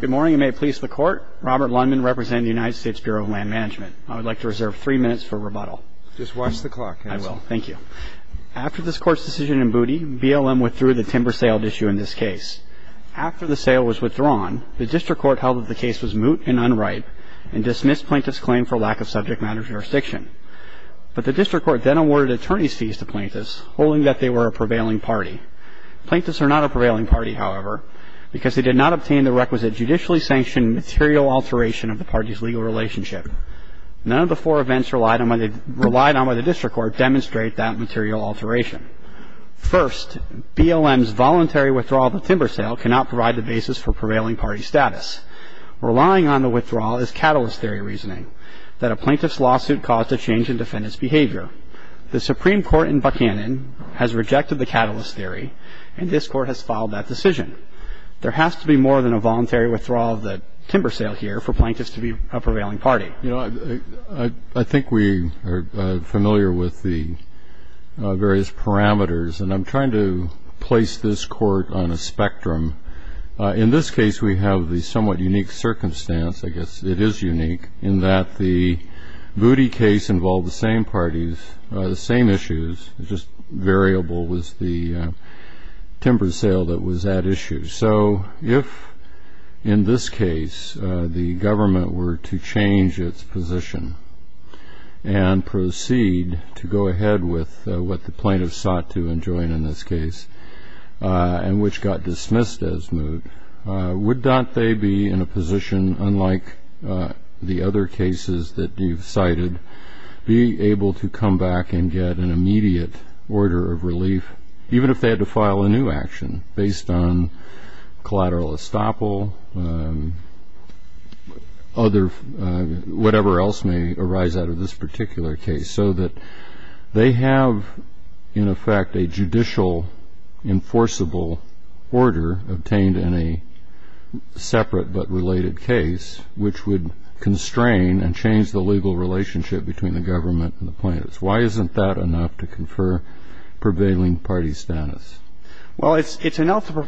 Good morning and may it please the Court, Robert Lundman representing the United States Bureau of Land Management. I would like to reserve three minutes for rebuttal. Just watch the clock. I will. Thank you. After this Court's decision in Booty, BLM withdrew the timber sale issue in this case. After the sale was withdrawn, the District Court held that the case was moot and unripe and dismissed Plaintiff's claim for lack of subject matter jurisdiction. But the District Court then awarded attorney's fees to Plaintiffs, holding that they were a prevailing party. Plaintiffs are not a prevailing party, however, because they did not obtain the requisite judicially sanctioned material alteration of the party's legal relationship. None of the four events relied on by the District Court demonstrate that material alteration. First, BLM's voluntary withdrawal of the timber sale cannot provide the basis for prevailing party status. Relying on the withdrawal is catalyst theory reasoning, that a Plaintiff's lawsuit caused a change in defendant's behavior. The Supreme Court in Buchanan has rejected the catalyst theory, and this Court has filed that decision. There has to be more than a voluntary withdrawal of the timber sale here for Plaintiffs to be a prevailing party. You know, I think we are familiar with the various parameters, and I'm trying to place this Court on a spectrum. In this case, we have the somewhat unique circumstance, I guess it is unique, in that the Moody case involved the same parties, the same issues, just variable was the timber sale that was at issue. So if, in this case, the government were to change its position and proceed to go ahead with what the Plaintiffs sought to enjoin in this case, and which got dismissed as Moody, would not they be in a position, unlike the other cases that you've cited, be able to come back and get an immediate order of relief, even if they had to file a new action based on collateral estoppel, whatever else may arise out of this particular case, so that they have, in effect, a judicial enforceable order obtained in a separate but related case, which would constrain and change the legal relationship between the government and the Plaintiffs? Why isn't that enough to confer prevailing party status? Well, it's enough to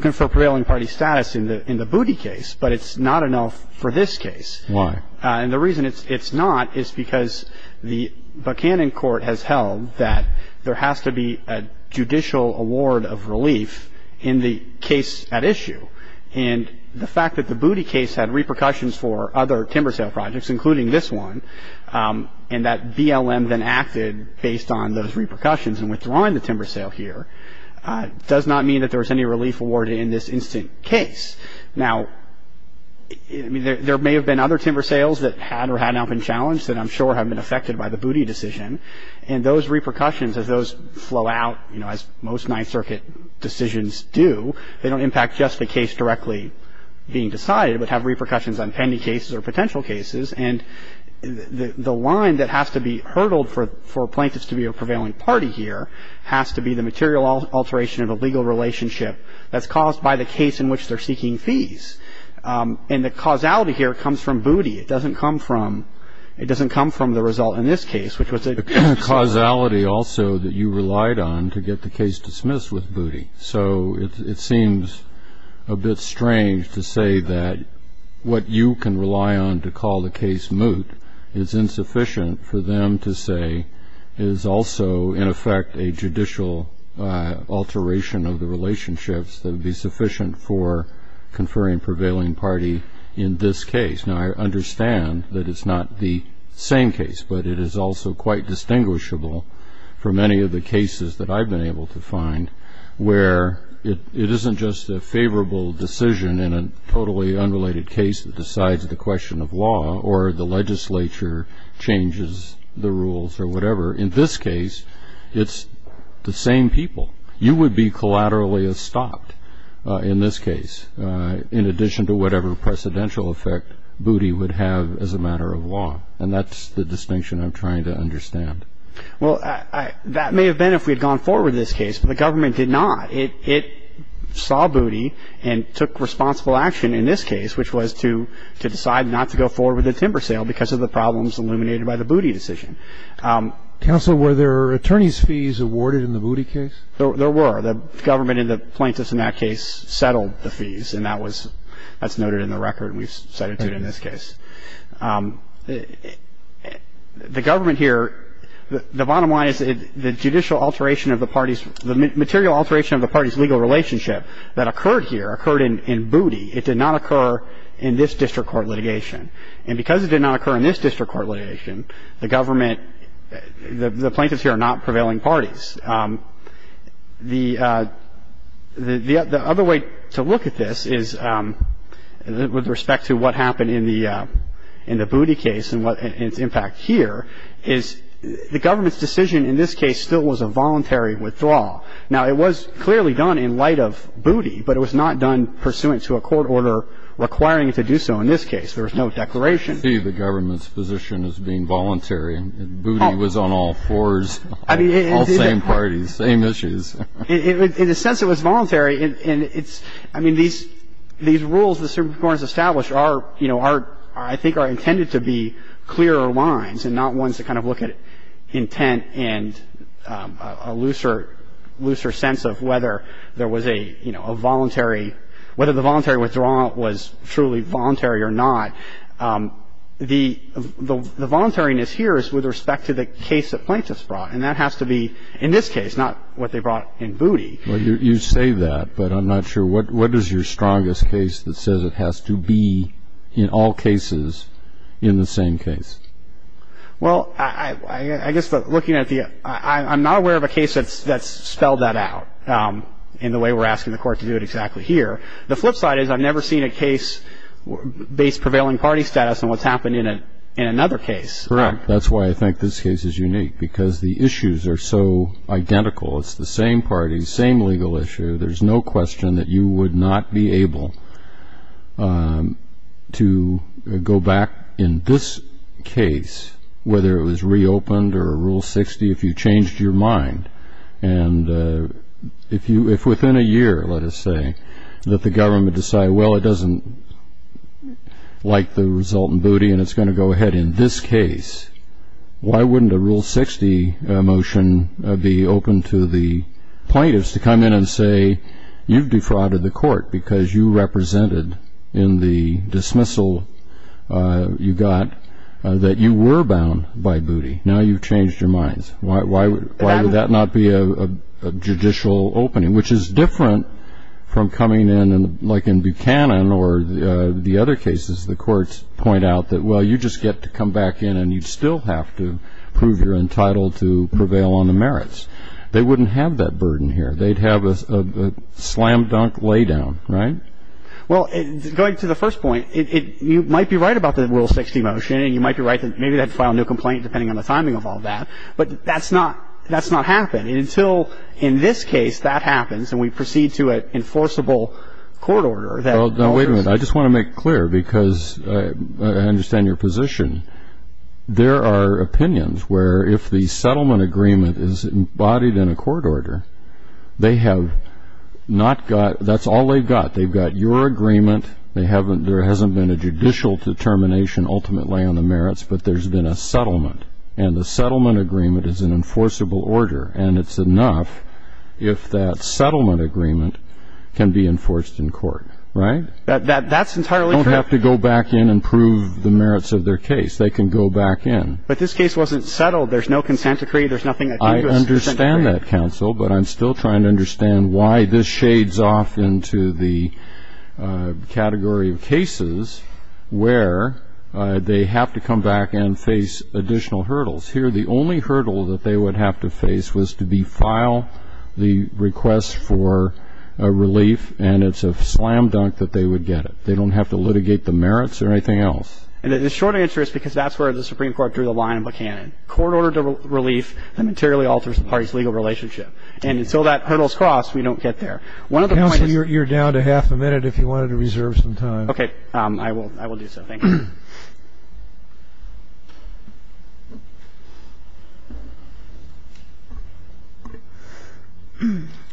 confer prevailing party status in the Moody case, but it's not enough for this case. Why? And the reason it's not is because the Buchanan Court has held that there has to be a judicial award of relief in the case at issue. And the fact that the Moody case had repercussions for other timber sale projects, including this one, and that BLM then acted based on those repercussions in withdrawing the timber sale here, does not mean that there was any relief awarded in this instant case. Now, I mean, there may have been other timber sales that had or had not been challenged that I'm sure have been affected by the Moody decision. And those repercussions, as those flow out, you know, as most Ninth Circuit decisions do, they don't impact just the case directly being decided, but have repercussions on pending cases or potential cases. And the line that has to be hurdled for Plaintiffs to be a prevailing party here has to be the material alteration of a legal relationship that's caused by the case in which they're seeking fees. And the causality here comes from Booty. It doesn't come from the result in this case, which was a... The causality also that you relied on to get the case dismissed with Booty. So it seems a bit strange to say that what you can rely on to call the case moot is insufficient for them to say is also, in effect, a judicial alteration of the relationships that would be sufficient for conferring prevailing party in this case. Now, I understand that it's not the same case, but it is also quite distinguishable from any of the cases that I've been able to find where it isn't just a favorable decision in a totally unrelated case that decides the question of law or the legislature changes the rules or whatever. In this case, it's the same people. You would be collaterally stopped in this case, in addition to whatever precedential effect Booty would have as a matter of law. And that's the distinction I'm trying to understand. Well, that may have been if we had gone forward in this case, but the government did not. It saw Booty and took responsible action in this case, which was to decide not to go forward with the timber sale because of the problems illuminated by the Booty decision. Counsel, were there attorney's fees awarded in the Booty case? There were. The government and the plaintiffs in that case settled the fees, and that was noted in the record and we've cited it in this case. The government here, the bottom line is the judicial alteration of the parties, the material alteration of the parties' legal relationship that occurred here occurred in Booty. It did not occur in this district court litigation. And because it did not occur in this district court litigation, the government the plaintiffs here are not prevailing parties. The other way to look at this is with respect to what happened in the Booty case and its impact here is the government's decision in this case still was a voluntary withdrawal. Now, it was clearly done in light of Booty, but it was not done pursuant to a court order requiring it to do so in this case. There was no declaration. I see the government's position as being voluntary. Booty was on all fours, all same parties, same issues. In the sense it was voluntary, and it's – I mean, these rules the Supreme Court has established are, you know, I think are intended to be clearer lines and not ones that kind of look at intent and a looser sense of whether there was a, you know, a voluntary – whether the voluntary withdrawal was truly voluntary or not. The voluntariness here is with respect to the case that plaintiffs brought, and that has to be in this case, not what they brought in Booty. Well, you say that, but I'm not sure. What is your strongest case that says it has to be in all cases in the same case? Well, I guess looking at the – I'm not aware of a case that's spelled that out in the way we're asking the court to do it exactly here. The flip side is I've never seen a case based prevailing party status on what's happened in another case. Correct. That's why I think this case is unique, because the issues are so identical. It's the same parties, same legal issue. There's no question that you would not be able to go back in this case, whether it was reopened or Rule 60, if you changed your mind. And if within a year, let us say, that the government decide, well, it doesn't like the result in Booty and it's going to go ahead in this case, why wouldn't a Rule 60 motion be open to the plaintiffs to come in and say, you've defrauded the court because you represented in the dismissal you got that you were bound by Booty. Now you've changed your mind. Why would that not be a judicial opening, which is different from coming in, like in Buchanan or the other cases the courts point out that, well, you just get to come back in and you still have to prove you're entitled to prevail on the merits. They wouldn't have that burden here. They'd have a slam-dunk lay-down, right? Well, going to the first point, you might be right about the Rule 60 motion, and you might be right that maybe they'd file a new complaint depending on the timing of all that, but that's not happened. And until in this case that happens and we proceed to an enforceable court order, I just want to make clear, because I understand your position, there are opinions where if the settlement agreement is embodied in a court order, that's all they've got. They've got your agreement. There hasn't been a judicial determination ultimately on the merits, but there's been a settlement, and the settlement agreement is an enforceable order, and it's enough if that settlement agreement can be enforced in court, right? That's entirely correct. They don't have to go back in and prove the merits of their case. They can go back in. But this case wasn't settled. There's no consent decree. There's nothing that came to us. I understand that, counsel, but I'm still trying to understand why this shades off into the category of cases where they have to come back and face additional hurdles. Here, the only hurdle that they would have to face was to be filed the request for relief, and it's a slam dunk that they would get it. They don't have to litigate the merits or anything else. The short answer is because that's where the Supreme Court drew the line in Buchanan. Court-ordered relief that materially alters the party's legal relationship. And until that hurdle is crossed, we don't get there. Counsel, you're down to half a minute if you wanted to reserve some time. Okay. I will do so. Thank you.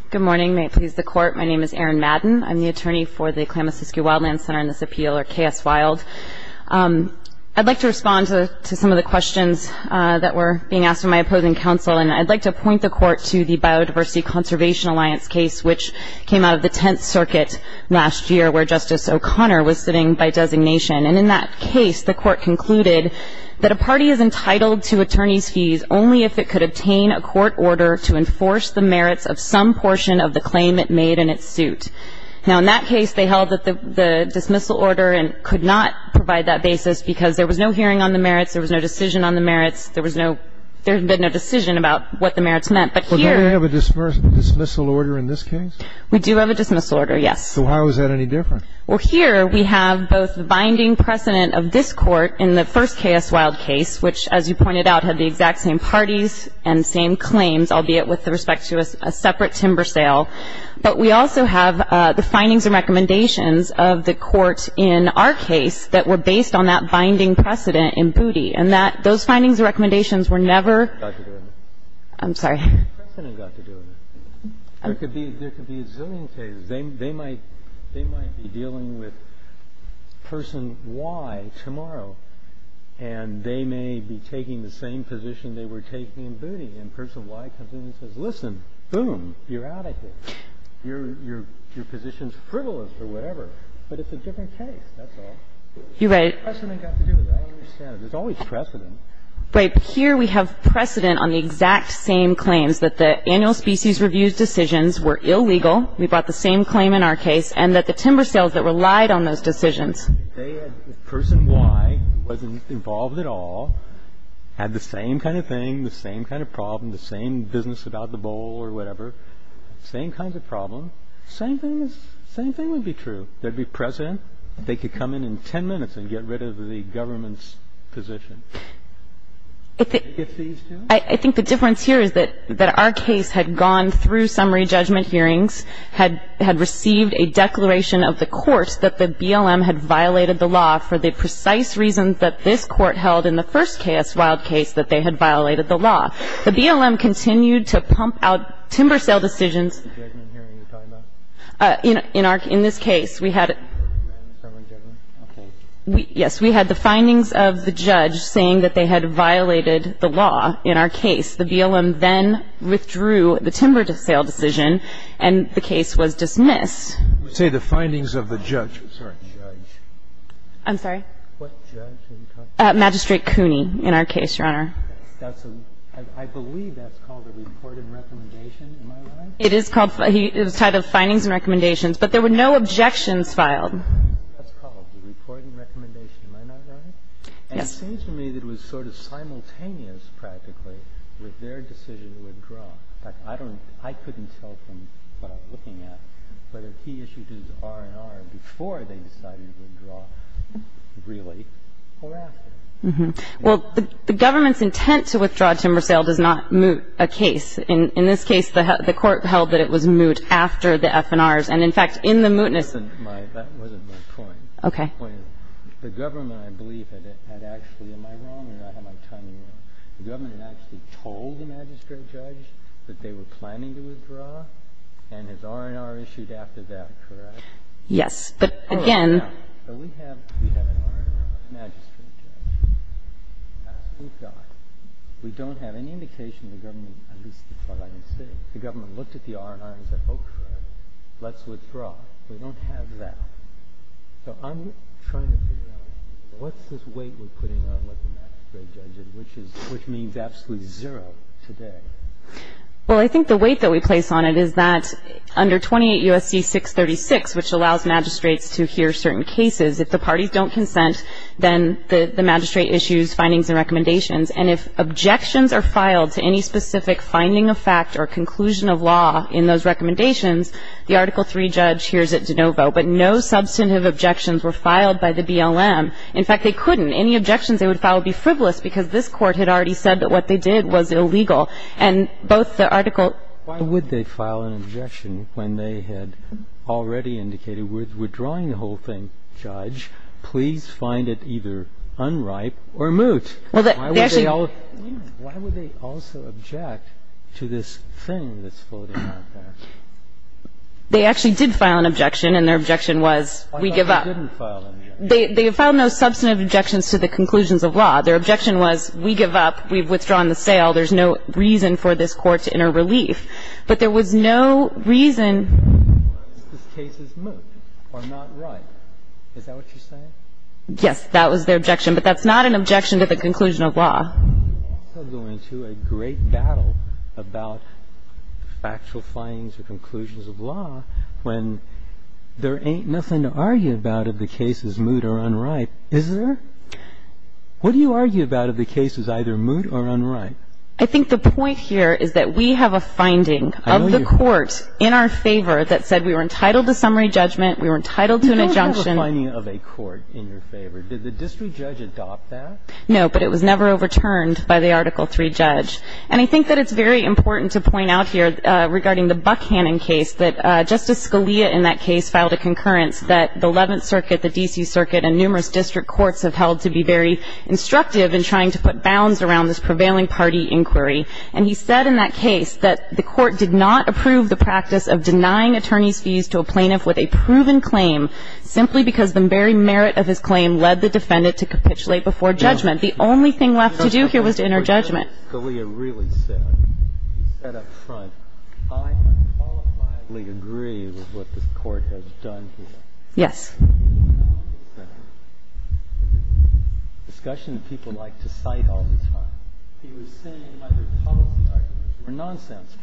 Good morning. May it please the Court. My name is Erin Madden. I'm the attorney for the Klamath-Siskiyou Wildland Center in this appeal, or KS Wild. I'd like to respond to some of the questions that were being asked of my opposing counsel, and I'd like to point the Court to the Biodiversity Conservation Alliance case, which came out of the Tenth Circuit last year, where Justice O'Connor was sitting by designation. And in that case, the Court concluded that a party is entitled to attorney's fees only if it could obtain a court order to enforce the merits of some portion of the claim it made in its suit. Now, in that case, they held that the dismissal order could not provide that basis because there was no hearing on the merits. There was no decision on the merits. There was no decision about what the merits meant. But here we have a dismissal order in this case? We do have a dismissal order, yes. So how is that any different? Well, here we have both the binding precedent of this Court in the first KS Wild case, which, as you pointed out, had the exact same parties and same claims, albeit with respect to a separate timber sale. But we also have the findings and recommendations of the Court in our case that were based on that binding precedent in Booty, and that those findings and recommendations were never ---- I'm sorry. There could be a zillion cases. They might be dealing with Person Y tomorrow, and they may be taking the same position they were taking in Booty. And Person Y comes in and says, listen, boom, you're out of here. Your position is frivolous or whatever. But it's a different case. That's all. The precedent has to do with it. I don't understand it. There's always precedent. Right. But here we have precedent on the exact same claims, that the annual species review decisions were illegal. We brought the same claim in our case, and that the timber sales that relied on those decisions. If they had, if Person Y wasn't involved at all, had the same kind of thing, the same kind of problem, the same business about the bowl or whatever, same kinds of problems, same thing would be true. There would be precedent. They could come in in 10 minutes and get rid of the government's position. I think the difference here is that our case had gone through summary judgment hearings, had received a declaration of the court that the BLM had violated the law for the precise reasons that this court held in the first K.S. Wilde case that they had violated the law. The BLM continued to pump out timber sale decisions. In this case, we had the findings of the judge saying that they had violated the law in our case. The BLM then withdrew the timber sale decision, and the case was dismissed. We say the findings of the judge. Sorry. I'm sorry. What judge? Magistrate Cooney in our case, Your Honor. I believe that's called a report and recommendation. Am I right? It is called. It was tied to findings and recommendations. But there were no objections filed. That's called a report and recommendation. Am I not right? Yes. It seems to me that it was sort of simultaneous, practically, with their decision to withdraw. In fact, I don't know. I couldn't tell from what I'm looking at whether he issued his R&R before they decided to withdraw, really, or after. Well, the government's intent to withdraw timber sale does not moot a case. In this case, the court held that it was moot after the F&Rs. And, in fact, in the mootness. That wasn't my point. Okay. The government, I believe, had actually ‑‑ am I wrong or am I timing wrong? The government had actually told the magistrate judge that they were planning to withdraw and his R&R issued after that, correct? Yes. But, again ‑‑ We have an R&R magistrate judge. Thank God. We don't have any indication of the government, at least as far as I can see. The government looked at the R&R and said, oh, correct, let's withdraw. We don't have that. So I'm trying to figure out, what's this weight we're putting on what the magistrate judge did, which means absolutely zero today? Well, I think the weight that we place on it is that under 28 U.S.C. 636, which allows magistrates to hear certain cases, if the parties don't consent, then the magistrate issues findings and recommendations. And if objections are filed to any specific finding of fact or conclusion of law in those But if they are not, then we have the right to say, no, there are no substantive objections were filed by the BLM. In fact, they couldn't. Any objections they would file would be frivolous because this Court had already said that what they did was illegal. And both the article ‑‑ Why would they file an objection when they had already indicated we're withdrawing the whole thing, Judge? Please find it either unripe or moot. Why would they also object to this thing that's floating out there? They actually did file an objection, and their objection was, we give up. Why didn't they file an objection? They filed no substantive objections to the conclusions of law. Their objection was, we give up. We've withdrawn the sale. There's no reason for this Court to enter relief. But there was no reason ‑‑ This case is moot or not ripe. Is that what you're saying? Yes, that was their objection. But that's not an objection to the conclusion of law. You're also going to a great battle about factual findings or conclusions of law when there ain't nothing to argue about if the case is moot or unripe, is there? What do you argue about if the case is either moot or unripe? I think the point here is that we have a finding of the court in our favor that said we were entitled to summary judgment, we were entitled to an injunction. You don't have a finding of a court in your favor. Did the district judge adopt that? No, but it was never overturned by the Article III judge. And I think that it's very important to point out here regarding the Buckhannon case that Justice Scalia in that case filed a concurrence that the Eleventh Circuit, the D.C. Circuit, and numerous district courts have held to be very instructive in trying to put bounds around this prevailing party inquiry. And he said in that case that the court did not approve the practice of denying attorneys' fees to a plaintiff with a proven claim simply because the very merit of his claim led the defendant to capitulate before judgment. The only thing left to do here was to enter judgment. Justice Scalia really said, he said up front, I unqualifiably agree with what this Court has done here. Yes. It's a discussion that people like to cite all the time. He was saying either policy arguments were nonsense,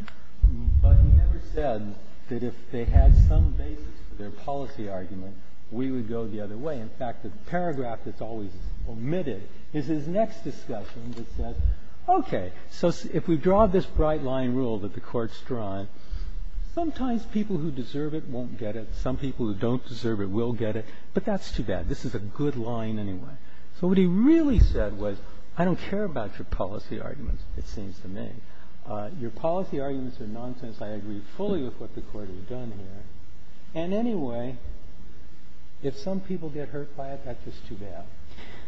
but he never said that if they had some basis for their policy argument, we would go the other way. In fact, the paragraph that's always omitted is his next discussion that says, okay, so if we draw this bright-line rule that the Court's drawn, sometimes people who deserve it won't get it, some people who don't deserve it will get it, but that's too bad. This is a good line anyway. So what he really said was, I don't care about your policy arguments, it seems to me. Your policy arguments are nonsense. I agree fully with what the Court has done here. And anyway, if some people get hurt by it, that's just too bad.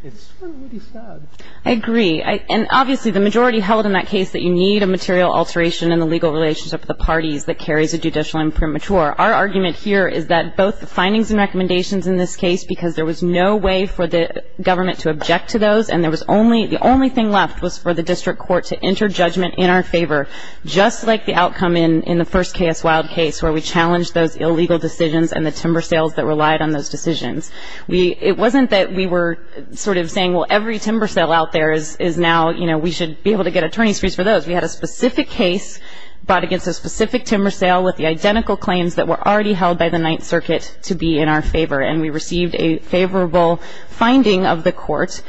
It's really sad. I agree. And obviously, the majority held in that case that you need a material alteration in the legal relationship of the parties that carries a judicial imprimatur. Our argument here is that both the findings and recommendations in this case, because there was no way for the government to object to those and there was only the only thing left was for the district court to enter judgment in our favor, just like the in the first K.S. Wilde case where we challenged those illegal decisions and the timber sales that relied on those decisions. It wasn't that we were sort of saying, well, every timber sale out there is now, you know, we should be able to get attorney's fees for those. We had a specific case brought against a specific timber sale with the identical claims that were already held by the Ninth Circuit to be in our favor, and we received a favorable finding of the Court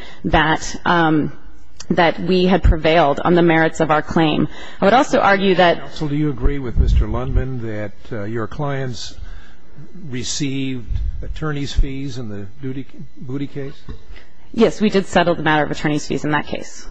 that we had prevailed on the merits of our claim. I would also argue that Counsel, do you agree with Mr. Lundman that your clients received attorney's fees in the Booty case? Yes, we did settle the matter of attorney's fees in that case.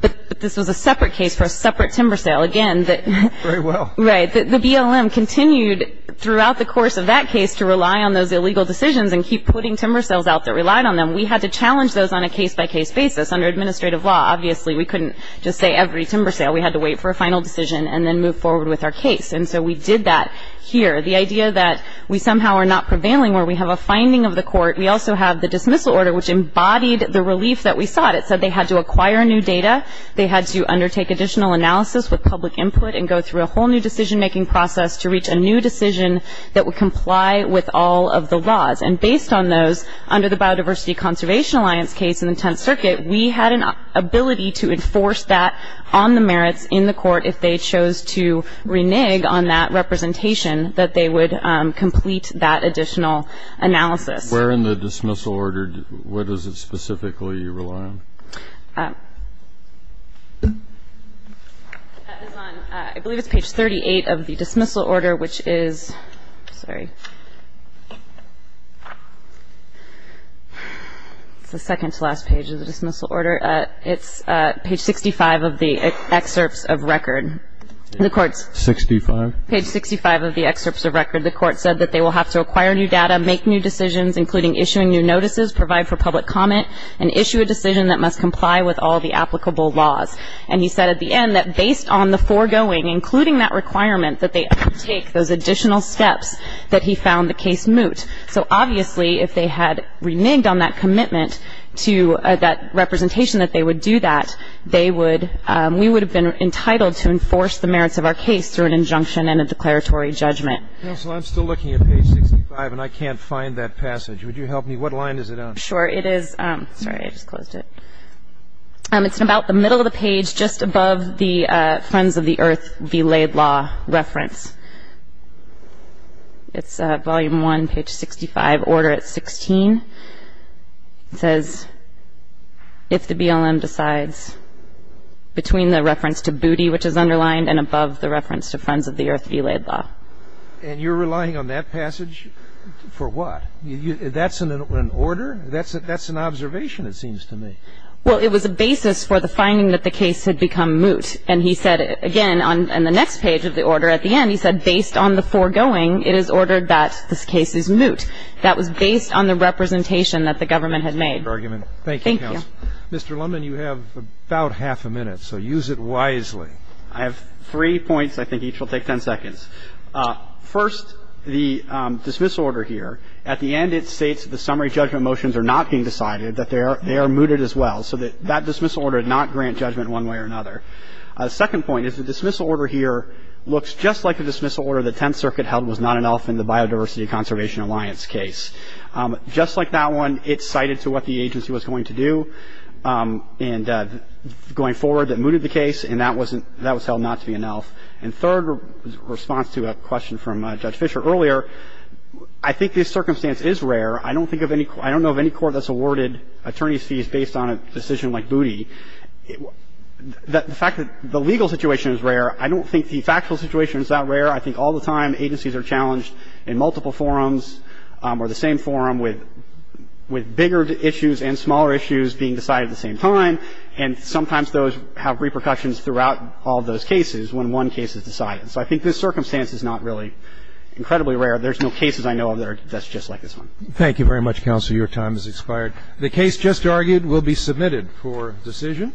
But this was a separate case for a separate timber sale. Again, the Very well. Right. The BLM continued throughout the course of that case to rely on those illegal decisions and keep putting timber sales out that relied on them. We had to challenge those on a case-by-case basis. Under administrative law, obviously, we couldn't just say every timber sale. We had to wait for a final decision and then move forward with our case. And so we did that here. The idea that we somehow are not prevailing where we have a finding of the Court, we also have the dismissal order, which embodied the relief that we sought. It said they had to acquire new data, they had to undertake additional analysis with public input and go through a whole new decision-making process to reach a new decision that would comply with all of the laws. And based on those, under the Biodiversity Conservation Alliance case in the Court, if they chose to renege on that representation, that they would complete that additional analysis. Where in the dismissal order? What is it specifically you rely on? That is on, I believe it's page 38 of the dismissal order, which is, sorry, it's the second-to-last page of the dismissal order. It's page 65 of the excerpts of record. The Court's? 65. Page 65 of the excerpts of record. The Court said that they will have to acquire new data, make new decisions, including issuing new notices, provide for public comment, and issue a decision that must comply with all the applicable laws. And he said at the end that based on the foregoing, including that requirement, that they undertake those additional steps that he found the case moot. So obviously, if they had reneged on that commitment to that representation that they would do that, they would, we would have been entitled to enforce the merits of our case through an injunction and a declaratory judgment. Counsel, I'm still looking at page 65, and I can't find that passage. Would you help me? What line is it on? Sure. It is, sorry, I just closed it. It's about the middle of the page, just above the Friends of the Earth belayed law reference. It's volume 1, page 65, order at 16. It says, if the BLM decides between the reference to booty, which is underlined, and above the reference to Friends of the Earth belayed law. And you're relying on that passage for what? That's an order? That's an observation, it seems to me. Well, it was a basis for the finding that the case had become moot. And he said, again, on the next page of the order, at the end, he said, based on the foregoing, it is ordered that this case is moot. That was based on the representation that the government had made. Thank you, counsel. Thank you. Mr. Lundin, you have about half a minute, so use it wisely. I have three points. I think each will take 10 seconds. First, the dismissal order here, at the end it states that the summary judgment motions are not being decided, that they are mooted as well. So that dismissal order did not grant judgment one way or another. The second point is the dismissal order here looks just like the dismissal order the Tenth Circuit held was not enough in the Biodiversity Conservation Alliance case. Just like that one, it's cited to what the agency was going to do, and going forward that mooted the case, and that was held not to be enough. And third response to a question from Judge Fischer earlier, I think this circumstance is rare. I don't know of any court that's awarded attorney's fees based on a decision like Booty. The fact that the legal situation is rare, I don't think the factual situation is that rare. I think all the time agencies are challenged in multiple forums or the same forum with bigger issues and smaller issues being decided at the same time, and sometimes those have repercussions throughout all those cases when one case is decided. So I think this circumstance is not really incredibly rare. There's no cases I know of that are just like this one. Thank you very much, counsel. Your time has expired. The case just argued will be submitted for decision.